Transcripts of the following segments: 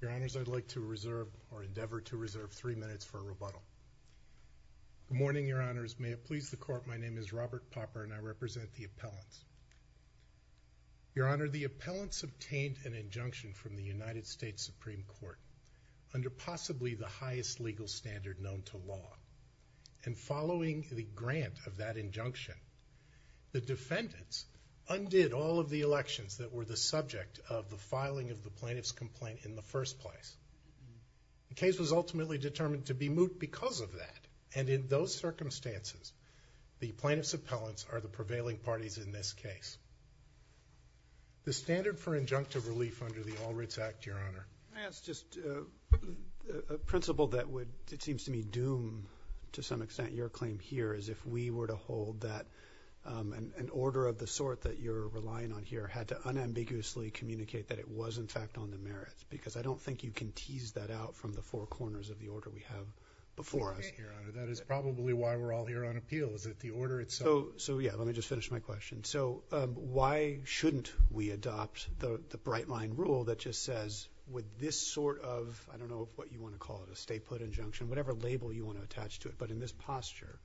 Your Honors, I'd like to reserve, or endeavor to reserve, three minutes for a rebuttal. Good morning, Your Honors. May it please the Court, my name is Robert Popper, and I represent the appellants. Your Honor, the appellants obtained an injunction from the United States Supreme Court under possibly the highest legal standard known to law. And following the grant of that injunction, the defendants undid all of the elections that were the subject of the filing of the plaintiff's complaint in the first place. The case was ultimately determined to be moot because of that, and in those circumstances, the plaintiff's appellants are the prevailing parties in this case. The standard for injunctive relief under the All Writs Act, Your Honor. May I ask just a principle that would, it seems to me, doom to some extent your claim here, is if we were to hold that an order of the sort that you're relying on here had to unambiguously communicate that it was in fact on the merits, because I don't think you can tease that out from the four corners of the order we have before us. That is probably why we're all here on appeal, is that the order itself... So yeah, let me just finish my question. So why shouldn't we adopt the bright-line rule that just says, with this sort of, I don't know what you want to call it, a state put injunction, whatever label you want to attach to it, but in this posture,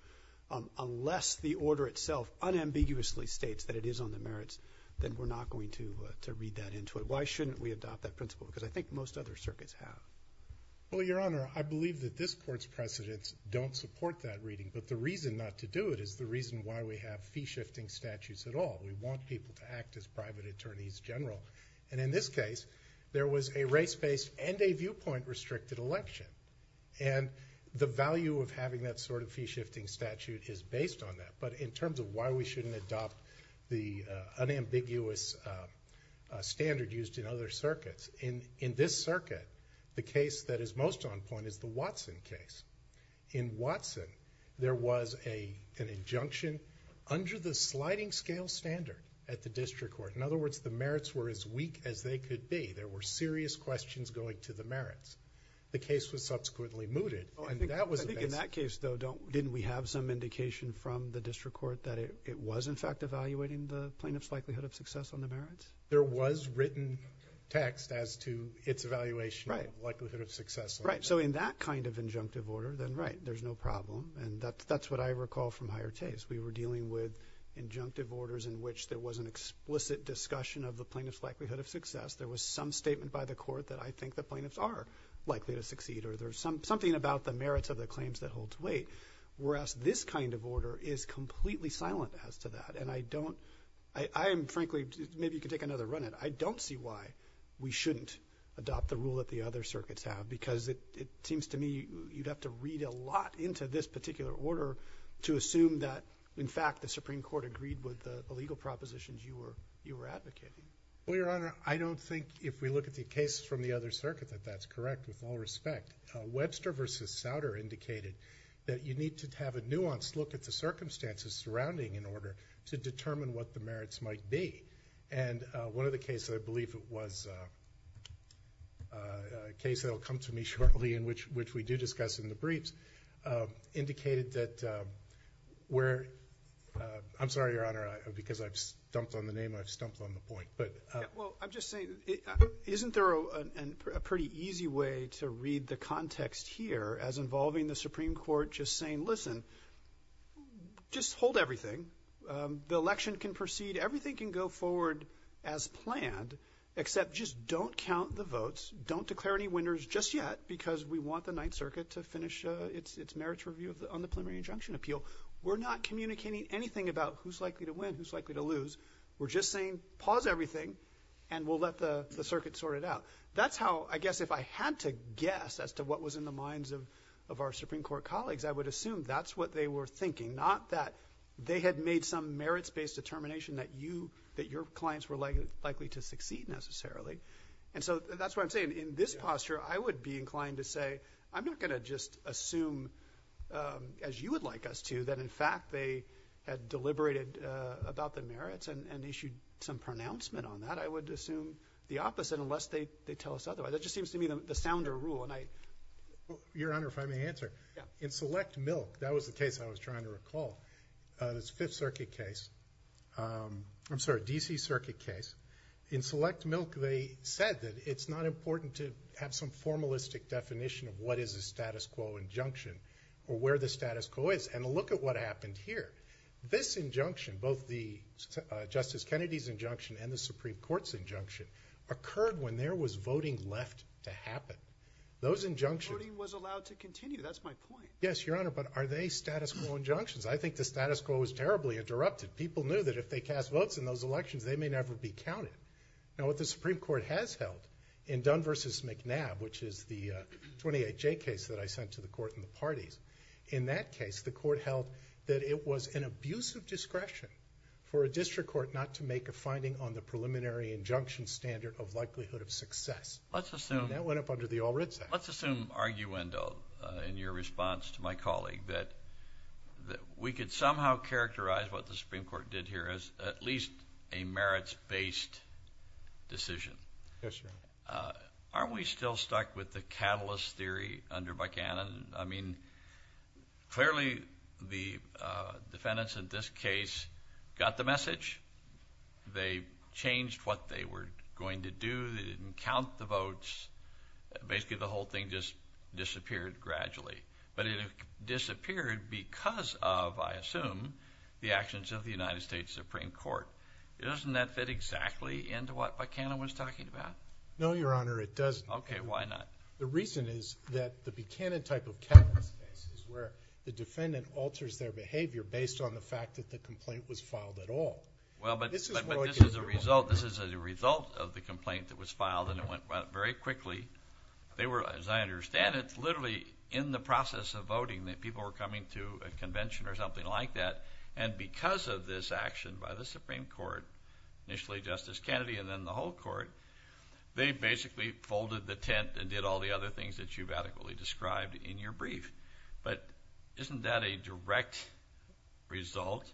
unless the order itself unambiguously states that it is on the merits, then we're not going to read that into it. Why shouldn't we adopt that principle? Because I think most other circuits have. Well, Your Honor, I believe that this Court's precedents don't support that reading, but the reason not to do it is the reason why we have fee-shifting statutes at all. We want people to act as private attorneys general. And in this case, there was a race-based and a viewpoint-restricted election. And the value of having that sort of fee-shifting statute is based on that. But in terms of why we shouldn't adopt the unambiguous standard used in other circuits, in this circuit, the case that is most on point is the Watson case. In Watson, there was an injunction under the sliding-scale standard at the District Court. In other words, the merits were as weak as they could be. There were serious questions going to the merits. The case was subsequently mooted, and that was a basic... I think in that case, though, didn't we have some indication from the District Court that it was, in fact, evaluating the plaintiff's likelihood of success on the merits? There was written text as to its evaluation of likelihood of success on the merits. Right. So in that kind of injunctive order, then, right, there's no problem. And that's what I recall from higher taste. We were dealing with injunctive orders in which there was an explicit discussion of the plaintiff's likelihood of success. There was some statement by the Court that I think the plaintiffs are likely to succeed, or there's something about the merits of the claims that hold to weight, whereas this kind of order is completely silent as to that. And I don't... I am frankly... maybe you can take another run at it. I don't see why we shouldn't adopt the rule that the other circuits have, because it seems to me you'd have to read a lot into this particular order to assume that, in fact, the Supreme Court agreed with the legal propositions you were advocating. Well, Your Honor, I don't think if we look at the cases from the other circuit that that's correct with all respect. Webster v. Souter indicated that you need to have a nuanced look at the circumstances surrounding an order to determine what the merits might be. And one of the cases, I believe it was a case that will come to me shortly in which we do discuss in the briefs, indicated that where... I'm sorry, Your Honor, because I've stumped on the name, I've stumped on the point, but... Yeah. Well, I'm just saying, isn't there a pretty easy way to read the context here as involving the Supreme Court just saying, listen, just hold everything. The election can proceed. Everything can go forward as planned, except just don't count the votes, don't declare any winners just yet, because we want the Ninth Circuit to finish its merits review on the preliminary injunction appeal. We're not communicating anything about who's likely to win, who's likely to lose. We're just saying, pause everything, and we'll let the circuit sort it out. That's how, I guess, if I had to guess as to what was in the minds of our Supreme Court colleagues, I would assume that's what they were thinking, not that they had made some merits-based determination that you... that your clients were likely to succeed necessarily. And so, that's what I'm saying. In this posture, I would be inclined to say, I'm not going to just assume, as you would like us to, that in fact they had deliberated about the merits and issued some pronouncement on that. I would assume the opposite, unless they tell us otherwise. That just seems to me the sounder rule, and I... Your Honor, if I may answer. Yeah. In Select Milk, that was the case I was trying to recall. It's a Fifth Circuit case. I'm sorry, D.C. Circuit case. In Select Milk, they said that it's not important to have some formalistic definition of what is a status quo injunction or where the status quo is. And look at what happened here. This injunction, both the Justice Kennedy's injunction and the Supreme Court's injunction, occurred when there was voting left to happen. Those injunctions... Yes, Your Honor, but are they status quo injunctions? I think the status quo was terribly interrupted. People knew that if they cast votes in those elections, they may never be counted. Now, what the Supreme Court has held in Dunn v. McNabb, which is the 28J case that I sent to the Court and the parties, in that case, the Court held that it was an abuse of discretion for a district court not to make a finding on the preliminary injunction standard of likelihood of success. And that went up under the All Reds Act. Let's assume, arguendo, in your response to my colleague, that we could somehow characterize what the Supreme Court did here as at least a merits-based decision. Yes, Your Honor. Aren't we still stuck with the catalyst theory under Buchanan? I mean, clearly, the defendants in this case got the message. They changed what they were going to do. They didn't count the votes. Basically, the whole thing just disappeared gradually. But it disappeared because of, I assume, the actions of the United States Supreme Court. Doesn't that fit exactly into what Buchanan was talking about? No, Your Honor, it doesn't. Okay, why not? The reason is that the Buchanan type of catalyst case is where the defendant alters their behavior based on the fact that the complaint was filed at all. Well, but this is a result. This is a result of the complaint that was filed, and it went very quickly. They were, as I understand it, literally in the process of voting, that people were coming to a convention or something like that. And because of this action by the Supreme Court, initially Justice Kennedy and then the whole court, they basically folded the tent and did all the other things that you've adequately described in your brief. But isn't that a direct result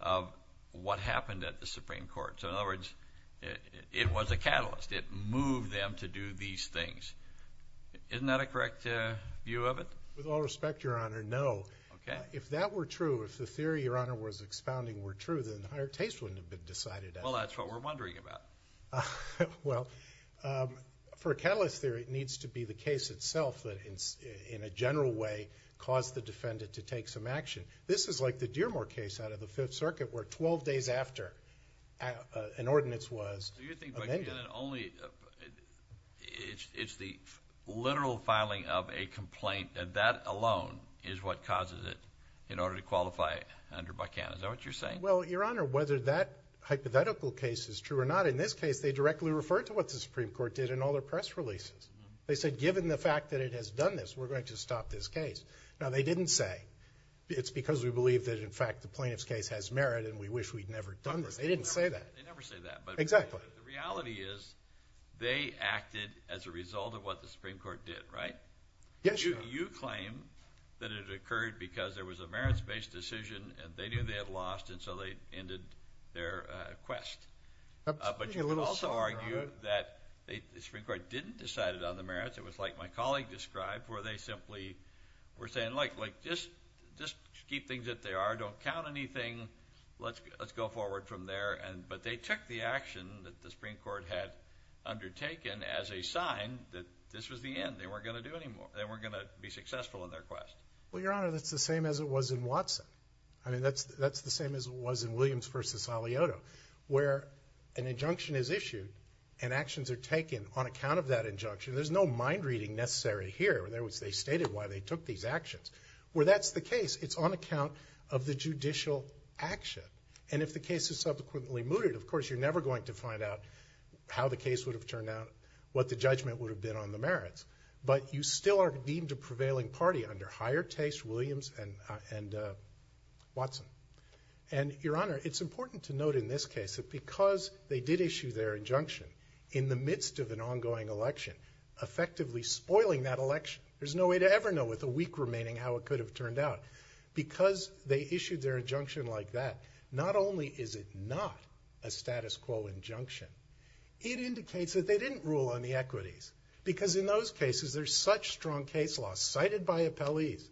of what happened at the Supreme Court? So in other words, it was a catalyst. It moved them to do these things. Isn't that a correct view of it? With all respect, Your Honor, no. Okay. If that were true, if the theory Your Honor was expounding were true, then higher taste wouldn't have been decided at all. Well, that's what we're wondering about. Well, for a catalyst theory, it needs to be the case itself that in a general way caused the defendant to take some action. This is like the Dearmore case out of the Fifth Circuit where 12 days after an ordinance was amended. Do you think, again, that only... it's the literal filing of a complaint and that alone is what causes it in order to qualify under Buchanan? Is that what you're saying? Well, Your Honor, whether that hypothetical case is true or not, in this case they directly referred to what the Supreme Court did in all their press releases. They said, given the fact that it has done this, we're going to stop this case. Now, they didn't say, it's because we believe that in fact the plaintiff's case has merit and we wish we'd never done this. They didn't say that. They never say that, but... Exactly. The reality is they acted as a result of what the Supreme Court did, right? Yes, Your Honor. You claim that it occurred because there was a merits-based decision and they knew they had lost and so they ended their quest, but you could also argue that the Supreme Court didn't decide it on the merits. It was like my colleague described, where they simply were saying, like, just keep things as they are. Don't count anything. Let's go forward from there, but they took the action that the Supreme Court had undertaken as a sign that this was the end. They weren't going to do any more. They weren't going to be successful in their quest. Well, Your Honor, that's the same as it was in Watson. I mean, that's the same as it was in Williams v. Saliotto, where an injunction is issued and actions are taken on account of that injunction. There's no mind-reading necessary here. In other words, they stated why they took these actions. Where that's the case, it's on account of the judicial action, and if the case is subsequently mooted, of course, you're never going to find out how the case would have turned out, what the judgment would have been on the merits, but you still are deemed a prevailing party under higher taste, Williams and Watson. And, Your Honor, it's important to note in this case that because they did issue their injunction in the midst of an ongoing election, effectively spoiling that election, there's no way to ever know with a week remaining how it could have turned out. Because they issued their injunction like that, not only is it not a status quo injunction, it indicates that they didn't rule on the equities, because in those cases, there's such strong case law cited by appellees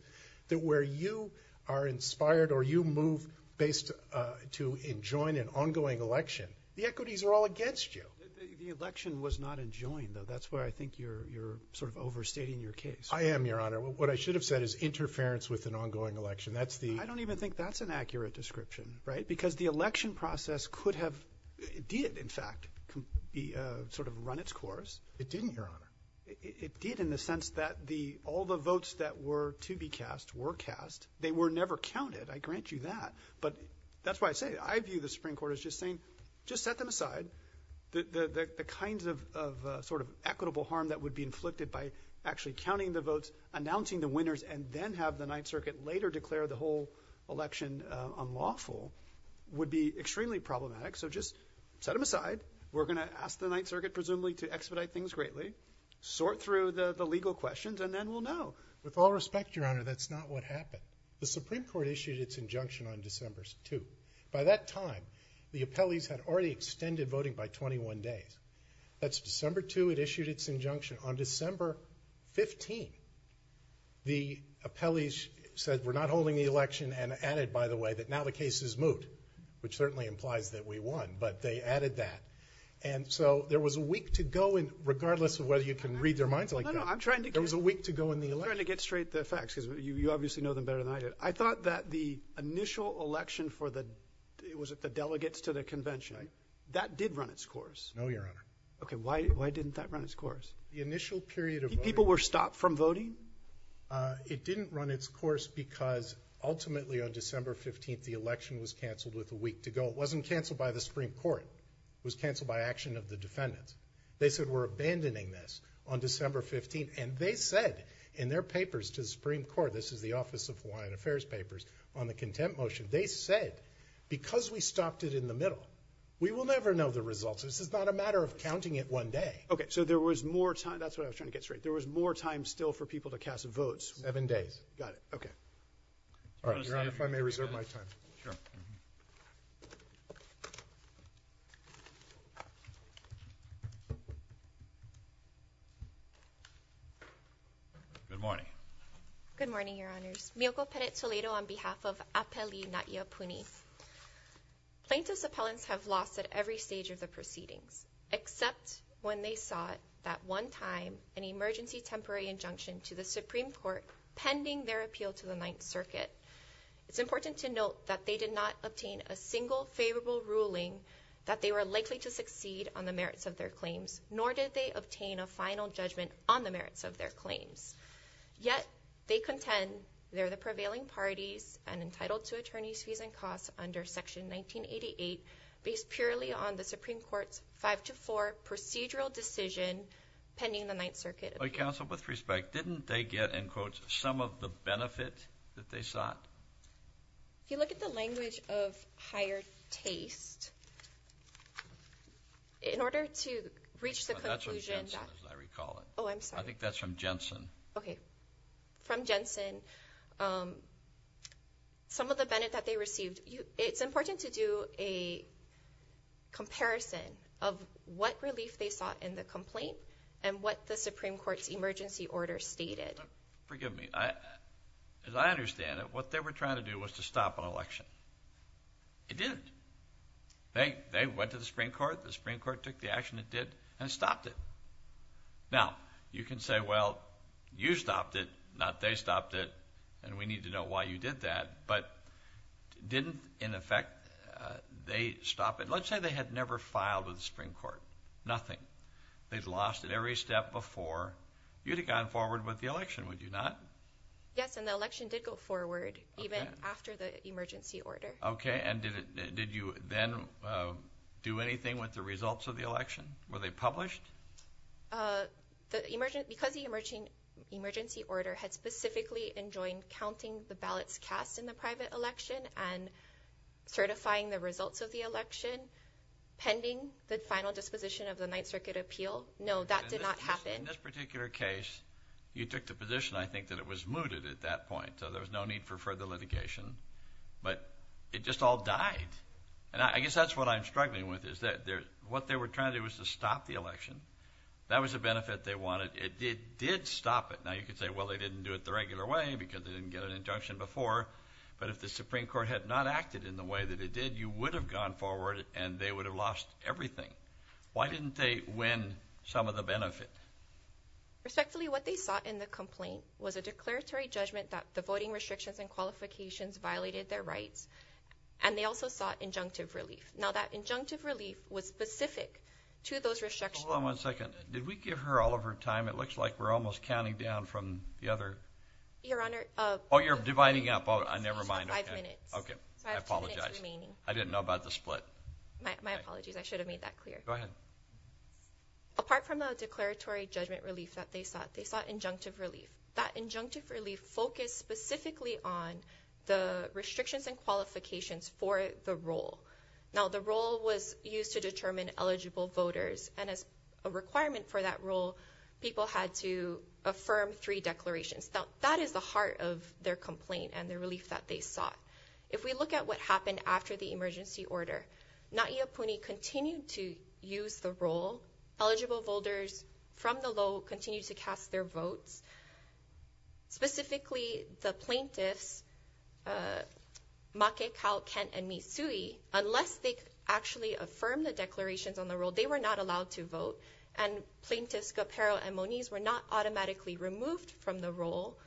that where you are inspired or you move based to enjoin an ongoing election, the equities are all against you. The election was not enjoined, though. That's where I think you're sort of overstating your case. I am, Your Honor. What I should have said is interference with an ongoing election. That's the... I don't even think that's an accurate description, right? Because the election process could have, it did, in fact, sort of run its course. It didn't, Your Honor. It did in the sense that all the votes that were to be cast were cast. They were never counted. I grant you that. But that's why I say, I view the Supreme Court as just saying, just set them aside. The kinds of sort of equitable harm that would be inflicted by actually counting the votes, announcing the winners, and then have the Ninth Circuit later declare the whole election unlawful would be extremely problematic. So just set them secretly, sort through the legal questions, and then we'll know. With all respect, Your Honor, that's not what happened. The Supreme Court issued its injunction on December 2. By that time, the appellees had already extended voting by 21 days. That's December 2, it issued its injunction. On December 15, the appellees said, we're not holding the election, and added, by the way, that now the case is moved, which certainly implies that we won, but they added that. And so there was a week to go in, regardless of whether you can read their minds like that, there was a week to go in the election. I'm trying to get straight the facts, because you obviously know them better than I do. I thought that the initial election for the, was it the delegates to the convention, that did run its course. No, Your Honor. Okay, why didn't that run its course? The initial period of voting. People were stopped from voting? It didn't run its course because ultimately on December 15, the election was canceled with a week to go. It wasn't canceled by the Supreme Court. It was canceled by action of the defendants. They said, we're abandoning this on December 15, and they said in their papers to the Supreme Court, this is the Office of Hawaiian Affairs papers, on the contempt motion, they said, because we stopped it in the middle, we will never know the results. This is not a matter of counting it one day. Okay, so there was more time, that's what I was trying to get straight, there was more time still for people to cast votes. Seven days. Got it, okay. All right, Your Honor, if I may reserve my time. Sure. Good morning. Good morning, Your Honors. Miyoko Peretzoledo on behalf of Apeli Natiapuni. Plaintiffs' appellants have lost at every stage of the proceedings, except when they sought that one time an emergency temporary injunction to the Supreme Court pending their appeal to the Ninth Circuit. It's important to note that they did not obtain a single favorable ruling that they were likely to succeed on the merits of their claims, nor did they obtain a final judgment on the merits of their claims. Yet, they contend they're the prevailing parties and entitled to attorney's fees and costs under Section 1988, based purely on the Supreme Court's 5-4 procedural decision pending the Ninth Circuit. Counsel, with respect, didn't they get, in quotes, some of the benefit that they sought? If you look at the language of higher taste, in order to reach the conclusion that... That's what Jensen is, I recall it. Oh, I'm sorry. I think that's from Jensen. Okay, from Jensen, some of the benefit that they received. It's important to do a comparison of what relief they sought in the complaint and what the Supreme Court's emergency order stated. Forgive me. As I understand it, what they were trying to do was to stop an election. It didn't. They went to the Supreme Court, the Supreme Court took the action it did, and stopped it. Now, you can say, well, you stopped it, not they stopped it, and we need to know why you did that, but didn't, in effect, they stop it. Let's say they had never filed with the Supreme Court. Nothing. They'd lost it every step before. You'd have gone forward with the election, would you not? Yes, and the election did go forward, even after the emergency order. Okay, and did you then do anything with the results of the election? Were they published? Because the emergency order had specifically enjoined counting the ballots cast in the final disposition of the Ninth Circuit appeal. No, that did not happen. In this particular case, you took the position, I think, that it was mooted at that point, so there was no need for further litigation, but it just all died. And I guess that's what I'm struggling with, is that what they were trying to do was to stop the election. That was a benefit they wanted. It did stop it. Now, you could say, well, they didn't do it the regular way because they didn't get an injunction before, but if the Supreme Court had not acted in the way that it did, you would have gone forward and they would have lost everything. Why didn't they win some of the benefit? Respectfully, what they sought in the complaint was a declaratory judgment that the voting restrictions and qualifications violated their rights, and they also sought injunctive relief. Now, that injunctive relief was specific to those restrictions. Hold on one second. Did we give her all of her time? It looks like we're almost counting down from the other... Your Honor... Oh, you're dividing up. Oh, never mind. Five minutes. Okay, I apologize. Five minutes remaining. I didn't know about the split. My apologies. I should have made that clear. Go ahead. Apart from the declaratory judgment relief that they sought, they sought injunctive relief. That injunctive relief focused specifically on the restrictions and qualifications for the role. Now, the role was used to determine eligible voters, and as a requirement for that role, people had to affirm three declarations. Now, that is the heart of their complaint and the relief that they sought. If we look at what happened after the emergency order, Na'i Apuni continued to use the role. Eligible voters from the low continued to cast their votes. Specifically, the plaintiffs, Make, Kal, Kent, and Mitsui, unless they actually affirmed the declarations on the role, they were not allowed to vote, and plaintiffs Kapero and Moniz were not automatically removed from the role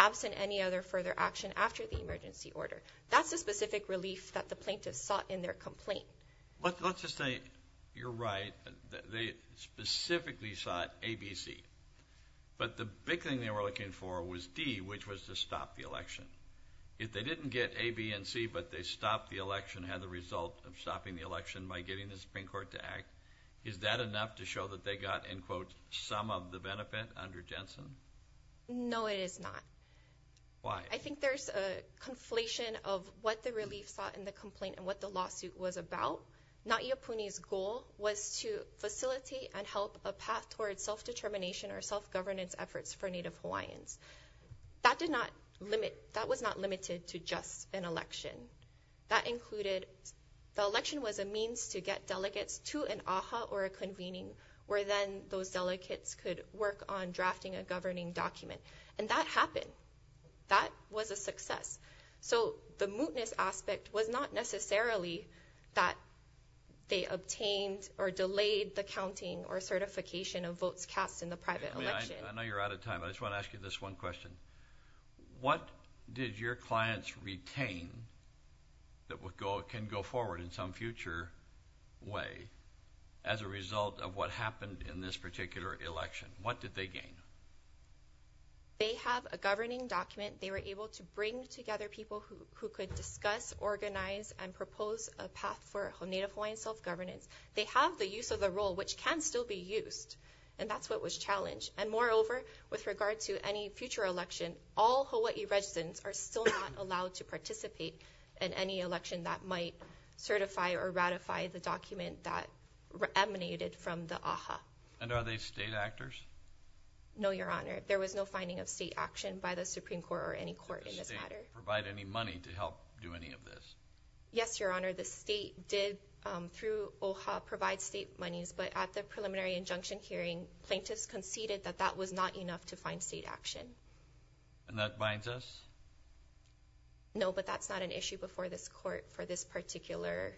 absent any other further action after the emergency order. That's the specific relief that the plaintiffs sought in their complaint. Let's just say, you're right, they specifically sought A, B, C, but the big thing they were looking for was D, which was to stop the election. If they didn't get A, B, and C, but they stopped the election, had the result of stopping the election by getting the Supreme Court to act, is that enough to show that they got, in quotes, some of the benefit under Jensen? No, it is not. Why? I think there's a conflation of what the relief sought in the complaint and what the lawsuit was about. Na'i Apuni's goal was to facilitate and help a path toward self-determination or self-governance efforts for Native Hawaiians. That did not limit, that was not limited to just an election. That included, the election was a means to get delegates to an aha, or a convening, where then those delegates could work on a self-governing document. And that happened. That was a success. So the mootness aspect was not necessarily that they obtained or delayed the counting or certification of votes cast in the private election. I know you're out of time, I just want to ask you this one question. What did your clients retain that can go forward in some future way, as a result of what happened in this particular election? What did they gain? They have a governing document, they were able to bring together people who could discuss, organize, and propose a path for Native Hawaiian self-governance. They have the use of the role, which can still be used. And that's what was challenged. And moreover, with regard to any future election, all Hawai'i residents are still not allowed to participate in any election that might certify or ratify the document that emanated from the aha. And are they state actors? No, Your Honor. There was no finding of state action by the Supreme Court or any court in this matter. Did the state provide any money to help do any of this? Yes, Your Honor. The state did, through OHA, provide state monies, but at the preliminary injunction hearing, plaintiffs conceded that that was not enough to find state action. And that binds us? No, but that's not an issue before this court for this particular...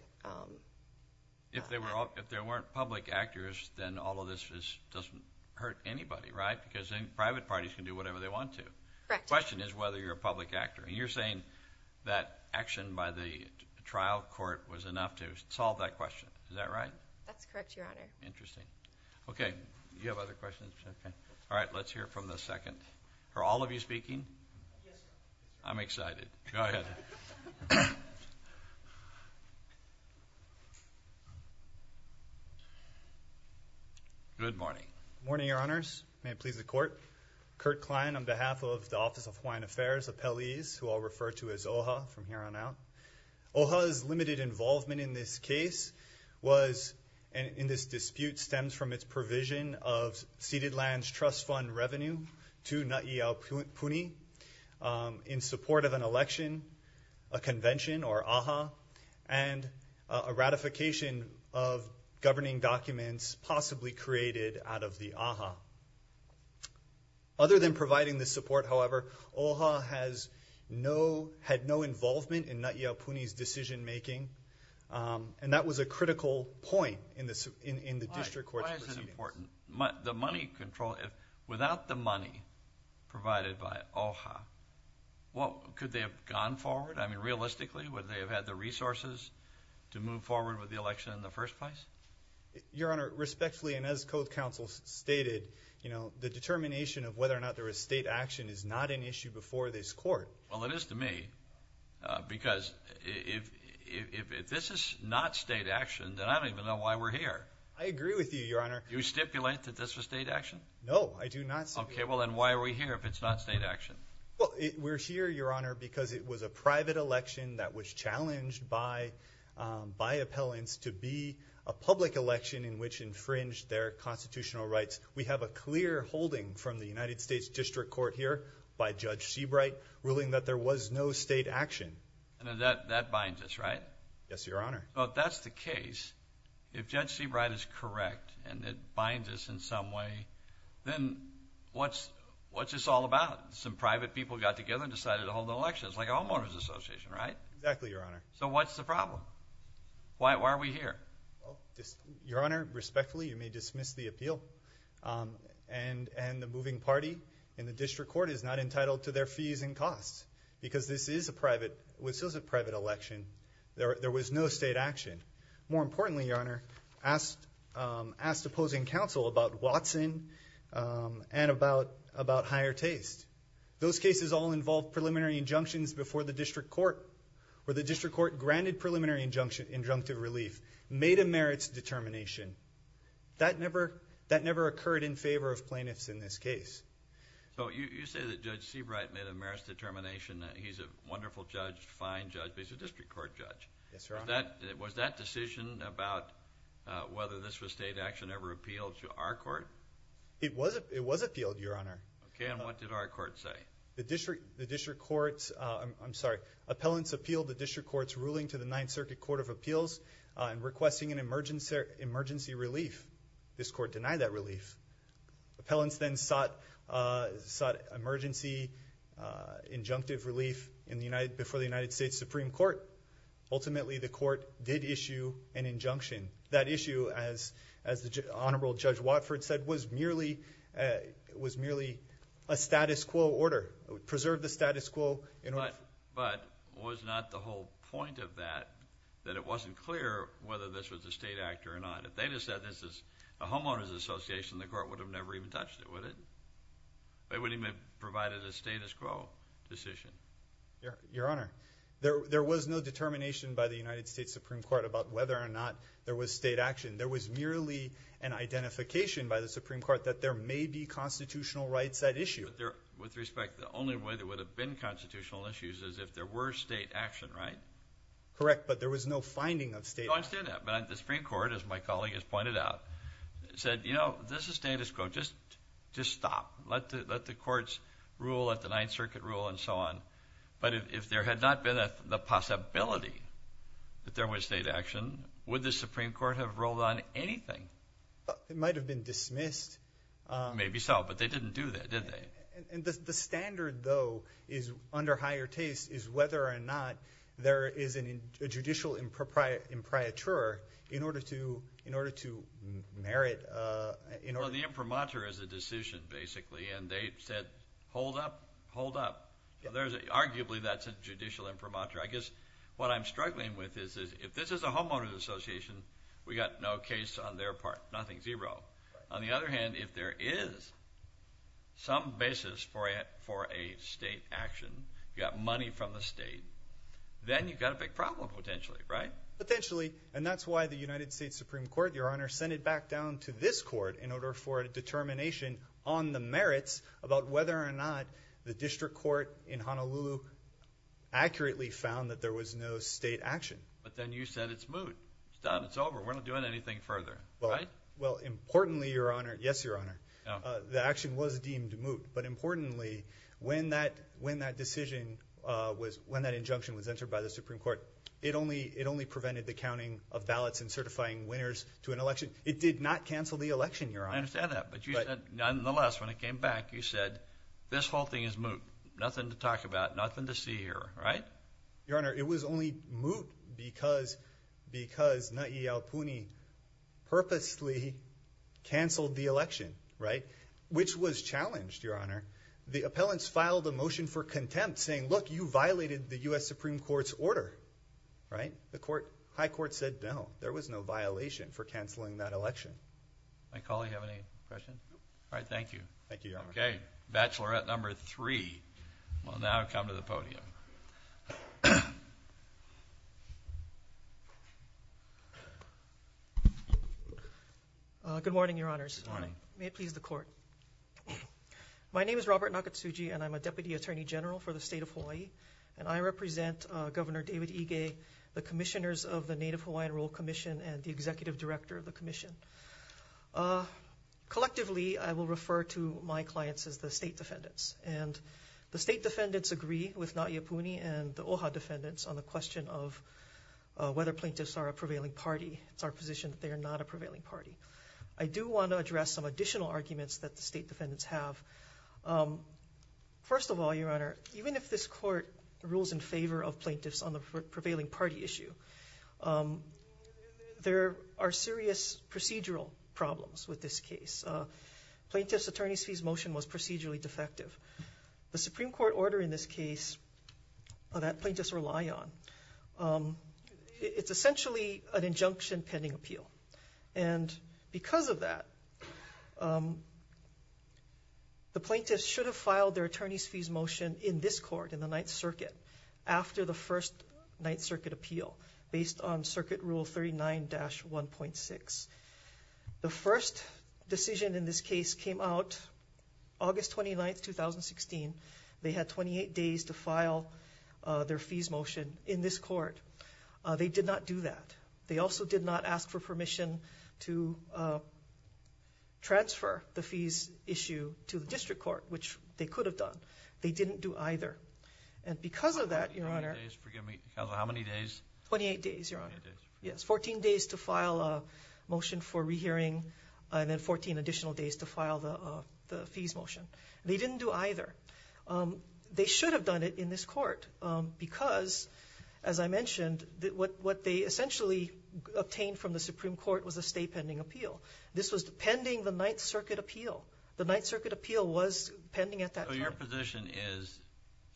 If there weren't public actors, then all of this doesn't hurt anybody, right? Because private parties can do whatever they want to. Correct. The question is whether you're a public actor. And you're saying that action by the trial court was enough to solve that question. Is that right? That's correct, Your Honor. Interesting. Okay. Do you have other questions? Alright, let's hear from the second. Are all of you speaking? Yes, sir. I'm excited. Go ahead. Good morning. Good morning, Your Honors. May it please the Court. Kurt Klein on behalf of the Office of Hawaiian Affairs, appellees, who I'll refer to as OHA from here on out. OHA's limited involvement in this case was, in this dispute, stems from its provision of ceded lands trust fund revenue to Na'i Aupuni in support of an election, a convention, or AHA, and a ratification of governing documents possibly created out of the AHA. Other than providing the support, however, OHA had no involvement in Na'i Aupuni's decision making. And that was a critical point in the district court's proceedings. Why is it important? Without the money provided by OHA, could they have gone forward? Realistically, would they have had the resources to move forward with the election in the first place? Your Honor, respectfully, and as code counsel stated, the determination of whether or not there was state action is not an issue before this court. Well, it is to me. Because if this is not state action, then I don't even know why we're here. I agree with you, Your Honor. Do you stipulate that this was state action? No, I do not stipulate. Okay, well then why are we here if it's not state action? Well, we're here, Your Honor, because it was a private election that was challenged by appellants to be a public election in which infringed their constitutional rights. We have a clear holding from the United States District Court here by Judge Seabright ruling that there was no state action. And that binds us, right? Yes, Your Honor. Well, if that's the case, if Judge Seabright is correct and it binds us in some way, then what's this all about? Some private people got together and decided to hold an election. It's like a homeowners association, right? Exactly, Your Honor. So what's the problem? Why are we here? Your Honor, respectfully, you may dismiss the appeal. And the moving party in the District Court is not entitled to their fees and costs because this is a private election. There was no state action. More importantly, Your Honor, Judge Seabright asked opposing counsel about Watson and about higher taste. Those cases all involved preliminary injunctions before the District Court, where the District Court granted preliminary injunctive relief, made a merits determination. That never occurred in favor of plaintiffs in this case. So you say that Judge Seabright made a merits determination, that he's a wonderful judge, fine judge, but he's a District Court judge. Yes, Your Honor. Was that decision about whether this was state action ever appealed to our court? It was appealed, Your Honor. Okay, and what did our court say? The District Court's, I'm sorry, appellants appealed the District Court's ruling to the Ninth Circuit Court of Appeals in requesting an emergency relief. This court denied that relief. Appellants then sought emergency injunctive relief before the United States Supreme Court. Ultimately, the court did issue an injunction. That issue, as Honorable Judge Watford said, was merely a status quo order. It preserved the status quo. But was not the whole point of that that it wasn't clear whether this was a state act or not? If they had said this is a homeowner's association, the court would have never even touched it, would it? They wouldn't even have provided a status quo decision. Your Honor, there was no determination by the United States Supreme Court about whether or not there was state action. There was merely an identification by the Supreme Court that there may be constitutional rights at issue. With respect, the only way there would have been constitutional issues is if there were state action, right? Correct, but there was no finding of state action. I understand that, but the Supreme Court, as my colleague has pointed out, said, you know, this is status quo. Just stop. Let the courts rule, let the Ninth Circuit rule, and so on. But if there had not been the possibility that there was state action, would the Supreme Court have rolled on anything? It might have been dismissed. Maybe so, but they didn't do that, did they? The standard, though, under higher taste, is whether or not there is a judicial impriatur in order to merit... Well, the impriatur is a decision, basically, and they said, hold up, hold up. Arguably, that's a judicial impriatur. I guess what I'm struggling with is, if this is a homeowner's association, we've got no case on their part, nothing, zero. On the other hand, if there is some basis for a state action, you've got money from the state, then you've got a big problem, potentially, right? Potentially, and that's why the United States Supreme Court, Your Honor, handed back down to this court in order for a determination on the merits about whether or not the district court in Honolulu accurately found that there was no state action. But then you said it's moot. It's done, it's over, we're not doing anything further. Well, importantly, Your Honor, yes, Your Honor, the action was deemed moot, but importantly, when that decision, when that injunction was entered by the Supreme Court, it only prevented the counting of ballots and certifying winners to an election. It did not cancel the election, Your Honor. I understand that, but you said, nonetheless, when it came back, you said, this whole thing is moot, nothing to talk about, nothing to see here, right? Your Honor, it was only moot because because Ngai Iao Puni purposely canceled the election, right? Which was challenged, Your Honor. The appellants filed a motion for contempt saying, look, you violated the U.S. Supreme Court's order, right? The High Court said, no, there was no violation for canceling that election. My colleague have any questions? All right, thank you. Bachelorette number three will now come to the podium. Good morning, Your Honors. May it please the Court. My name is Robert Nakatsugi, and I'm a Deputy Attorney General for the State of Hawaii, and I represent Governor David Ige, the Commissioners of the Native Hawaiian Rule Commission, and the Executive Director of the Commission. Collectively, I will refer to my clients as the State Defendants, and the State Defendants agree with Ngai Iao Puni and the OHA Defendants on the question of whether plaintiffs are a prevailing party. It's our position that they are not a prevailing party. I do want to address some additional arguments that the State Defendants have. First of all, Your Honor, even if this Court rules in favor of plaintiffs on the prevailing party issue, there are serious procedural problems with this case. Plaintiff's attorney's fees motion was procedurally defective. The Supreme Court order in this case that plaintiffs rely on, it's essentially an injunction pending appeal. And because of that, the plaintiffs should have filed their attorney's fees motion in this Court in the Ninth Circuit after the first Ninth Circuit appeal based on Circuit Rule 39-1.6. The first decision in this case came out August 29, 2016. They had 28 days to file their fees motion in this Court. They did not do that. They also did not ask for permission to transfer the fees issue to the District Court, which they could have done. They didn't do either. And because of that, Your Honor... How many days? 28 days, Your Honor. 14 days to file a motion for rehearing and then 14 additional days to file the fees motion. They didn't do either. They should have done it in this Court because, as I mentioned, what they essentially obtained from the Supreme Court was a stay pending appeal. This was pending the Ninth Circuit appeal. The Ninth Circuit appeal was pending at that time. So your position is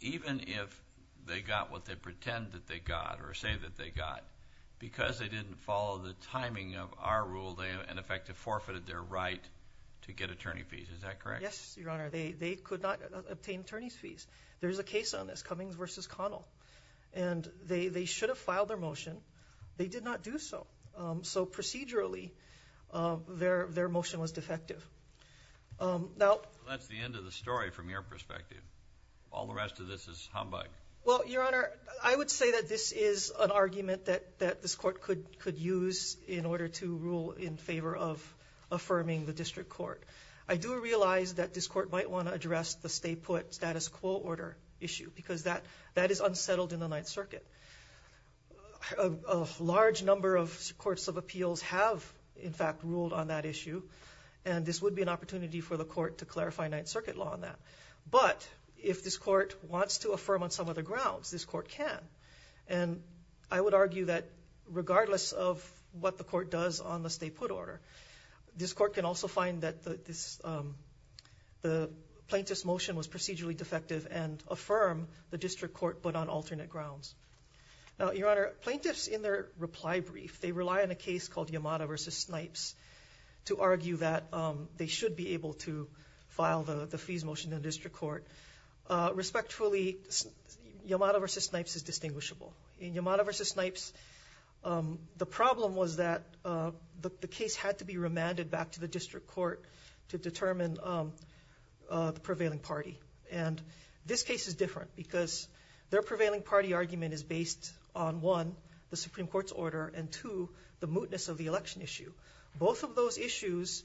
even if they got what they pretend that they got, or say that they got, because they didn't follow the timing of our rule, they in effect forfeited their right to get attorney fees. Is that correct? Yes, Your Honor. They could not obtain attorney fees. There's a case on this, Cummings v. Connell. They should have filed their motion. They did not do so. So procedurally, their motion was defective. That's the end of the story from your perspective. All the rest of this is humbug. Well, Your Honor, I would say that this is an argument that this Court could use in order to rule in favor of affirming the District Court. I do realize that this Court might want to address the stay put status quo order issue because that is unsettled in the Ninth Circuit. A large number of plaintiffs of appeals have, in fact, ruled on that issue, and this would be an opportunity for the Court to clarify Ninth Circuit law on that. But, if this Court wants to affirm on some other grounds, this Court can. I would argue that regardless of what the Court does on the stay put order, this Court can also find that the plaintiff's motion was procedurally defective and affirm the District Court but on alternate grounds. Now, Your Honor, plaintiffs in their reply brief rely on a case called Yamada v. Snipes to argue that they should be able to file the fees motion in the District Court. Respectfully, Yamada v. Snipes is distinguishable. In Yamada v. Snipes, the problem was that the case had to be remanded back to the District Court to determine the prevailing party. This case is different because their prevailing party argument is based on, one, the Supreme Court's order and, two, the mootness of the election issue. Both of those issues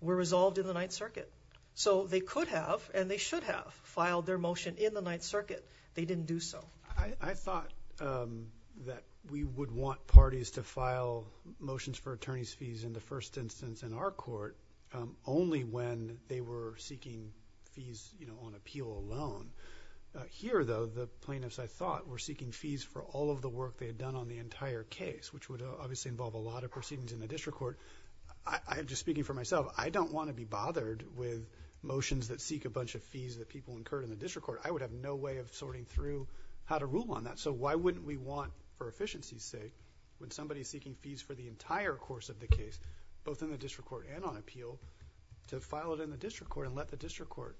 were resolved in the Ninth Circuit. So, they could have, and they should have filed their motion in the Ninth Circuit. They didn't do so. I thought that we would want parties to file motions for attorney's fees in the first instance in our Court only when they were seeking fees on appeal alone. Here, though, the plaintiffs, I thought, were seeking fees for all of the work they had done on the entire case, which would obviously involve a lot of proceedings in the District Court. I'm just speaking for myself. I don't want to be bothered with motions that seek a bunch of fees that people incurred in the District Court. I would have no way of sorting through how to rule on that. So, why wouldn't we want, for efficiency's sake, when somebody is seeking fees for the entire course of the case, both in the District Court and on appeal, to file it in the District Court and let the District Court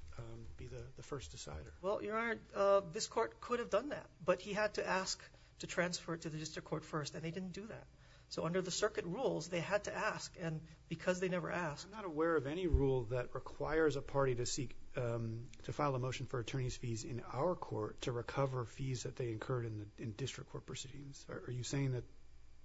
be the first decider? Well, Your Honor, this Court could have done that, but he had to ask to transfer it to the District Court first, and they didn't do that. So, under the Circuit rules, they had to ask, and because they never asked... I'm not aware of any rule that requires a party to seek... to file a motion for attorney's fees in our Court to recover fees that they incurred in District Court proceedings. Are you saying that...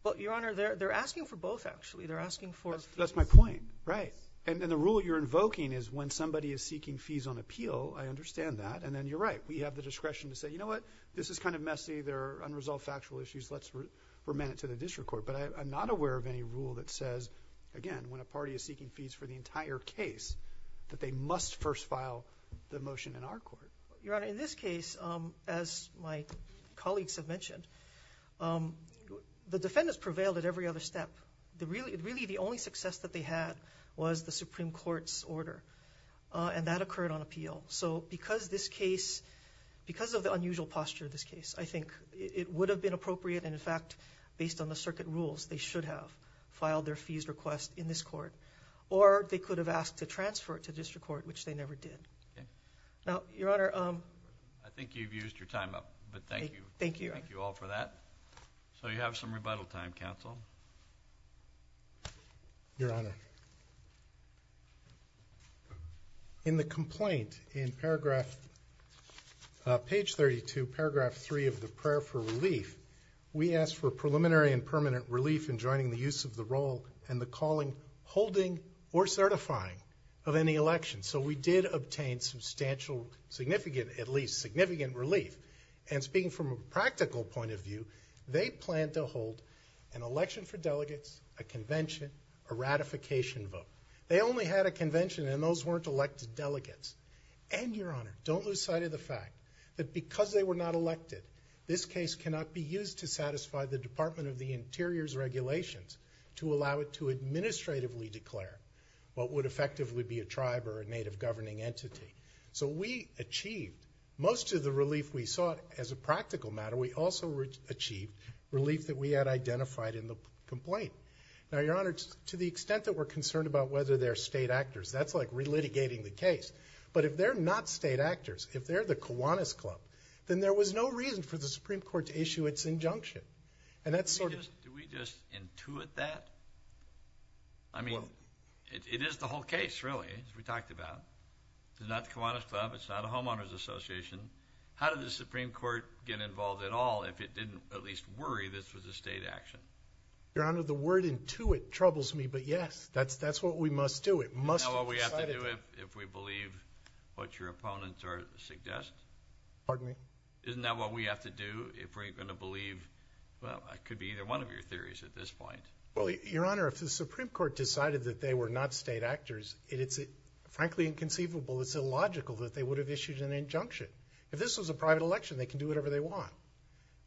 Well, Your Honor, they're asking for both, actually. They're asking for... That's my point, right. And the rule you're invoking is, when somebody is seeking fees on appeal, I understand that, and then you're right. We have the discretion to say, you know what, this is kind of messy. There are unresolved factual issues. Let's remand it to the District Court. But I'm not aware of any rule that says, again, when a party is seeking fees for the entire case, that they must first file the motion in our Court. Your Honor, in this case, as my colleagues have mentioned, the defendants prevailed at every other step. Really, the only success that they had was the Supreme Court's order. And that occurred on appeal. So, because this case... because of the unusual posture of this case, I think it would have been appropriate, and in fact, based on the circuit rules, they should have filed their fees request in this Court. Or, they could have asked to transfer it to District Court, which they never did. Now, Your Honor... I think you've used your time up. Thank you. Thank you all for that. So, you have some rebuttal time, Counsel. Your Honor... In the complaint, in paragraph... page 32, paragraph 3 of the Prayer for Relief, we asked for preliminary and permanent relief in joining the use of the role and the calling, holding, or certifying of any election. So, we did obtain substantial significant, at least significant, relief. And speaking from a practical point of view, they plan to hold an election for delegates, a convention, a ratification vote. They only had a convention, and those weren't elected delegates. And, Your Honor, don't lose sight of the fact that because they were not elected, this case cannot be used to satisfy the Department of the Interior's regulations to allow it to administratively declare what would effectively be a tribe or a Native governing entity. So, we achieved most of the relief we sought as a practical matter. We also achieved relief that we had identified in the complaint. Now, Your Honor, to the extent that we're concerned about whether they're state actors, that's like relitigating the case. But if they're not state actors, if they're the Kiwanis Club, then there was no reason for the Supreme Court to issue its injunction. And that's sort of... Do we just intuit that? I mean, it is the whole case, really, as we talked about. It's not the Kiwanis Club. It's not a Homeowners Association. How did the Supreme Court get involved at all if it didn't at least worry this was a state action? Your Honor, the word intuit troubles me, but yes, that's what we must do. It must have decided... Isn't that what we have to do if we believe what your opponents suggest? Pardon me? Isn't that what we have to do if we're going to believe... well, it could be either one of your theories at this point. Well, Your Honor, if the Supreme Court decided that they were not state actors, it's frankly inconceivable, it's illogical that they would have issued an injunction. If this was a private election, they can do whatever they want.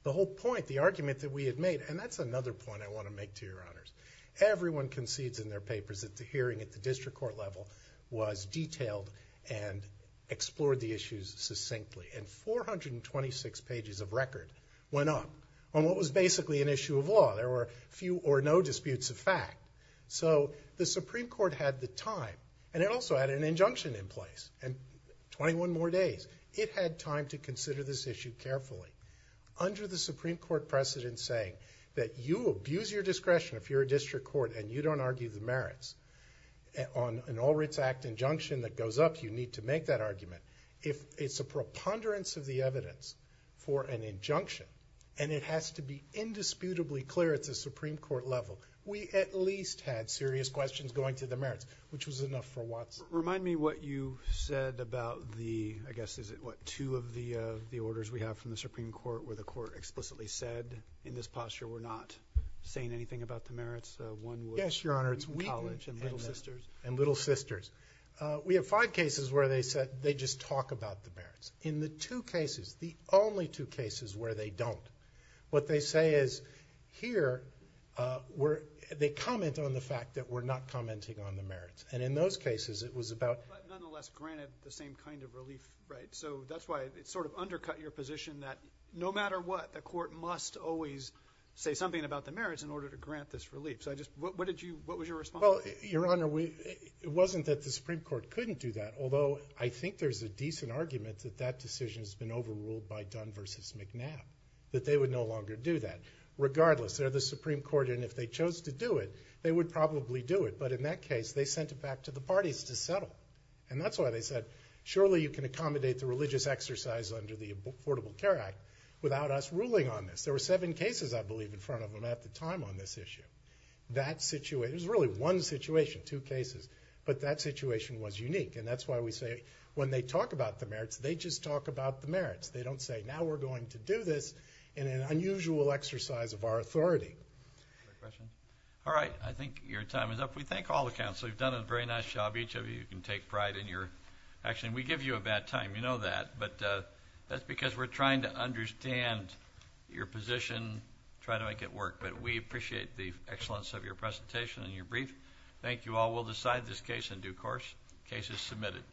The whole point, the argument that we had made, and that's another point I want to make to Your Honors. Everyone concedes in their papers that the hearing at the district court level was detailed and explored the issues succinctly. And 426 pages of record went up on what was basically an issue of law. There were few or no disputes of fact. So, the Supreme Court had the time, and it also had an injunction in place. And 21 more days. It had time to consider this issue carefully. Under the Supreme Court precedent saying that you abuse your discretion if you're a district court and you don't argue the merits on an All Writs Act injunction that goes up, you need to make that argument. If it's a preponderance of the evidence for an injunction and it has to be indisputably clear at the Supreme Court level, we at least had serious questions going to the merits, which was enough for Watson. Remind me what you said about the, I guess is it what, two of the orders we have from the Supreme Court where the court explicitly said in this posture we're not saying anything about the merits. One was College and Little Sisters. We have five cases where they just talk about the merits. In the two cases, the only two cases where they don't, what they say is, here they comment on the fact that we're not commenting on the merits. And in those cases, it was about But nonetheless granted the same kind of relief, right? So that's why it sort of undercut your position that no matter what, the court must always say something about the merits in order to grant this relief. So I just, what did you, what was your response? Well, Your Honor, we, it wasn't that the Supreme Court couldn't do that, although I think there's a decent argument that that decision has been overruled by Dunn versus McNabb, that they would no longer do that. Regardless, they're the Supreme Court and if they chose to do it, they would probably do it. But in that case, they sent it back to the parties to settle. And that's why they said, surely you can accommodate the religious exercise under the Affordable Care Act without us ruling on this. There were seven cases, I believe, in front of them at the time on this issue. That situation, it was really one situation, two cases, but that situation was unique. And that's why we say when they talk about the merits, they just talk about the merits. They don't say, now we're going to do this in an unusual exercise of our authority. All right. I think your time is up. We thank all the counselors. You've done a very nice job. Each of you can take pride in your action. We give you a bad time. You know that. But that's because we're trying to understand your position, try to make it work. But we appreciate the excellence of your presentation and your brief. Thank you all. We'll decide this case in due course. Case is submitted.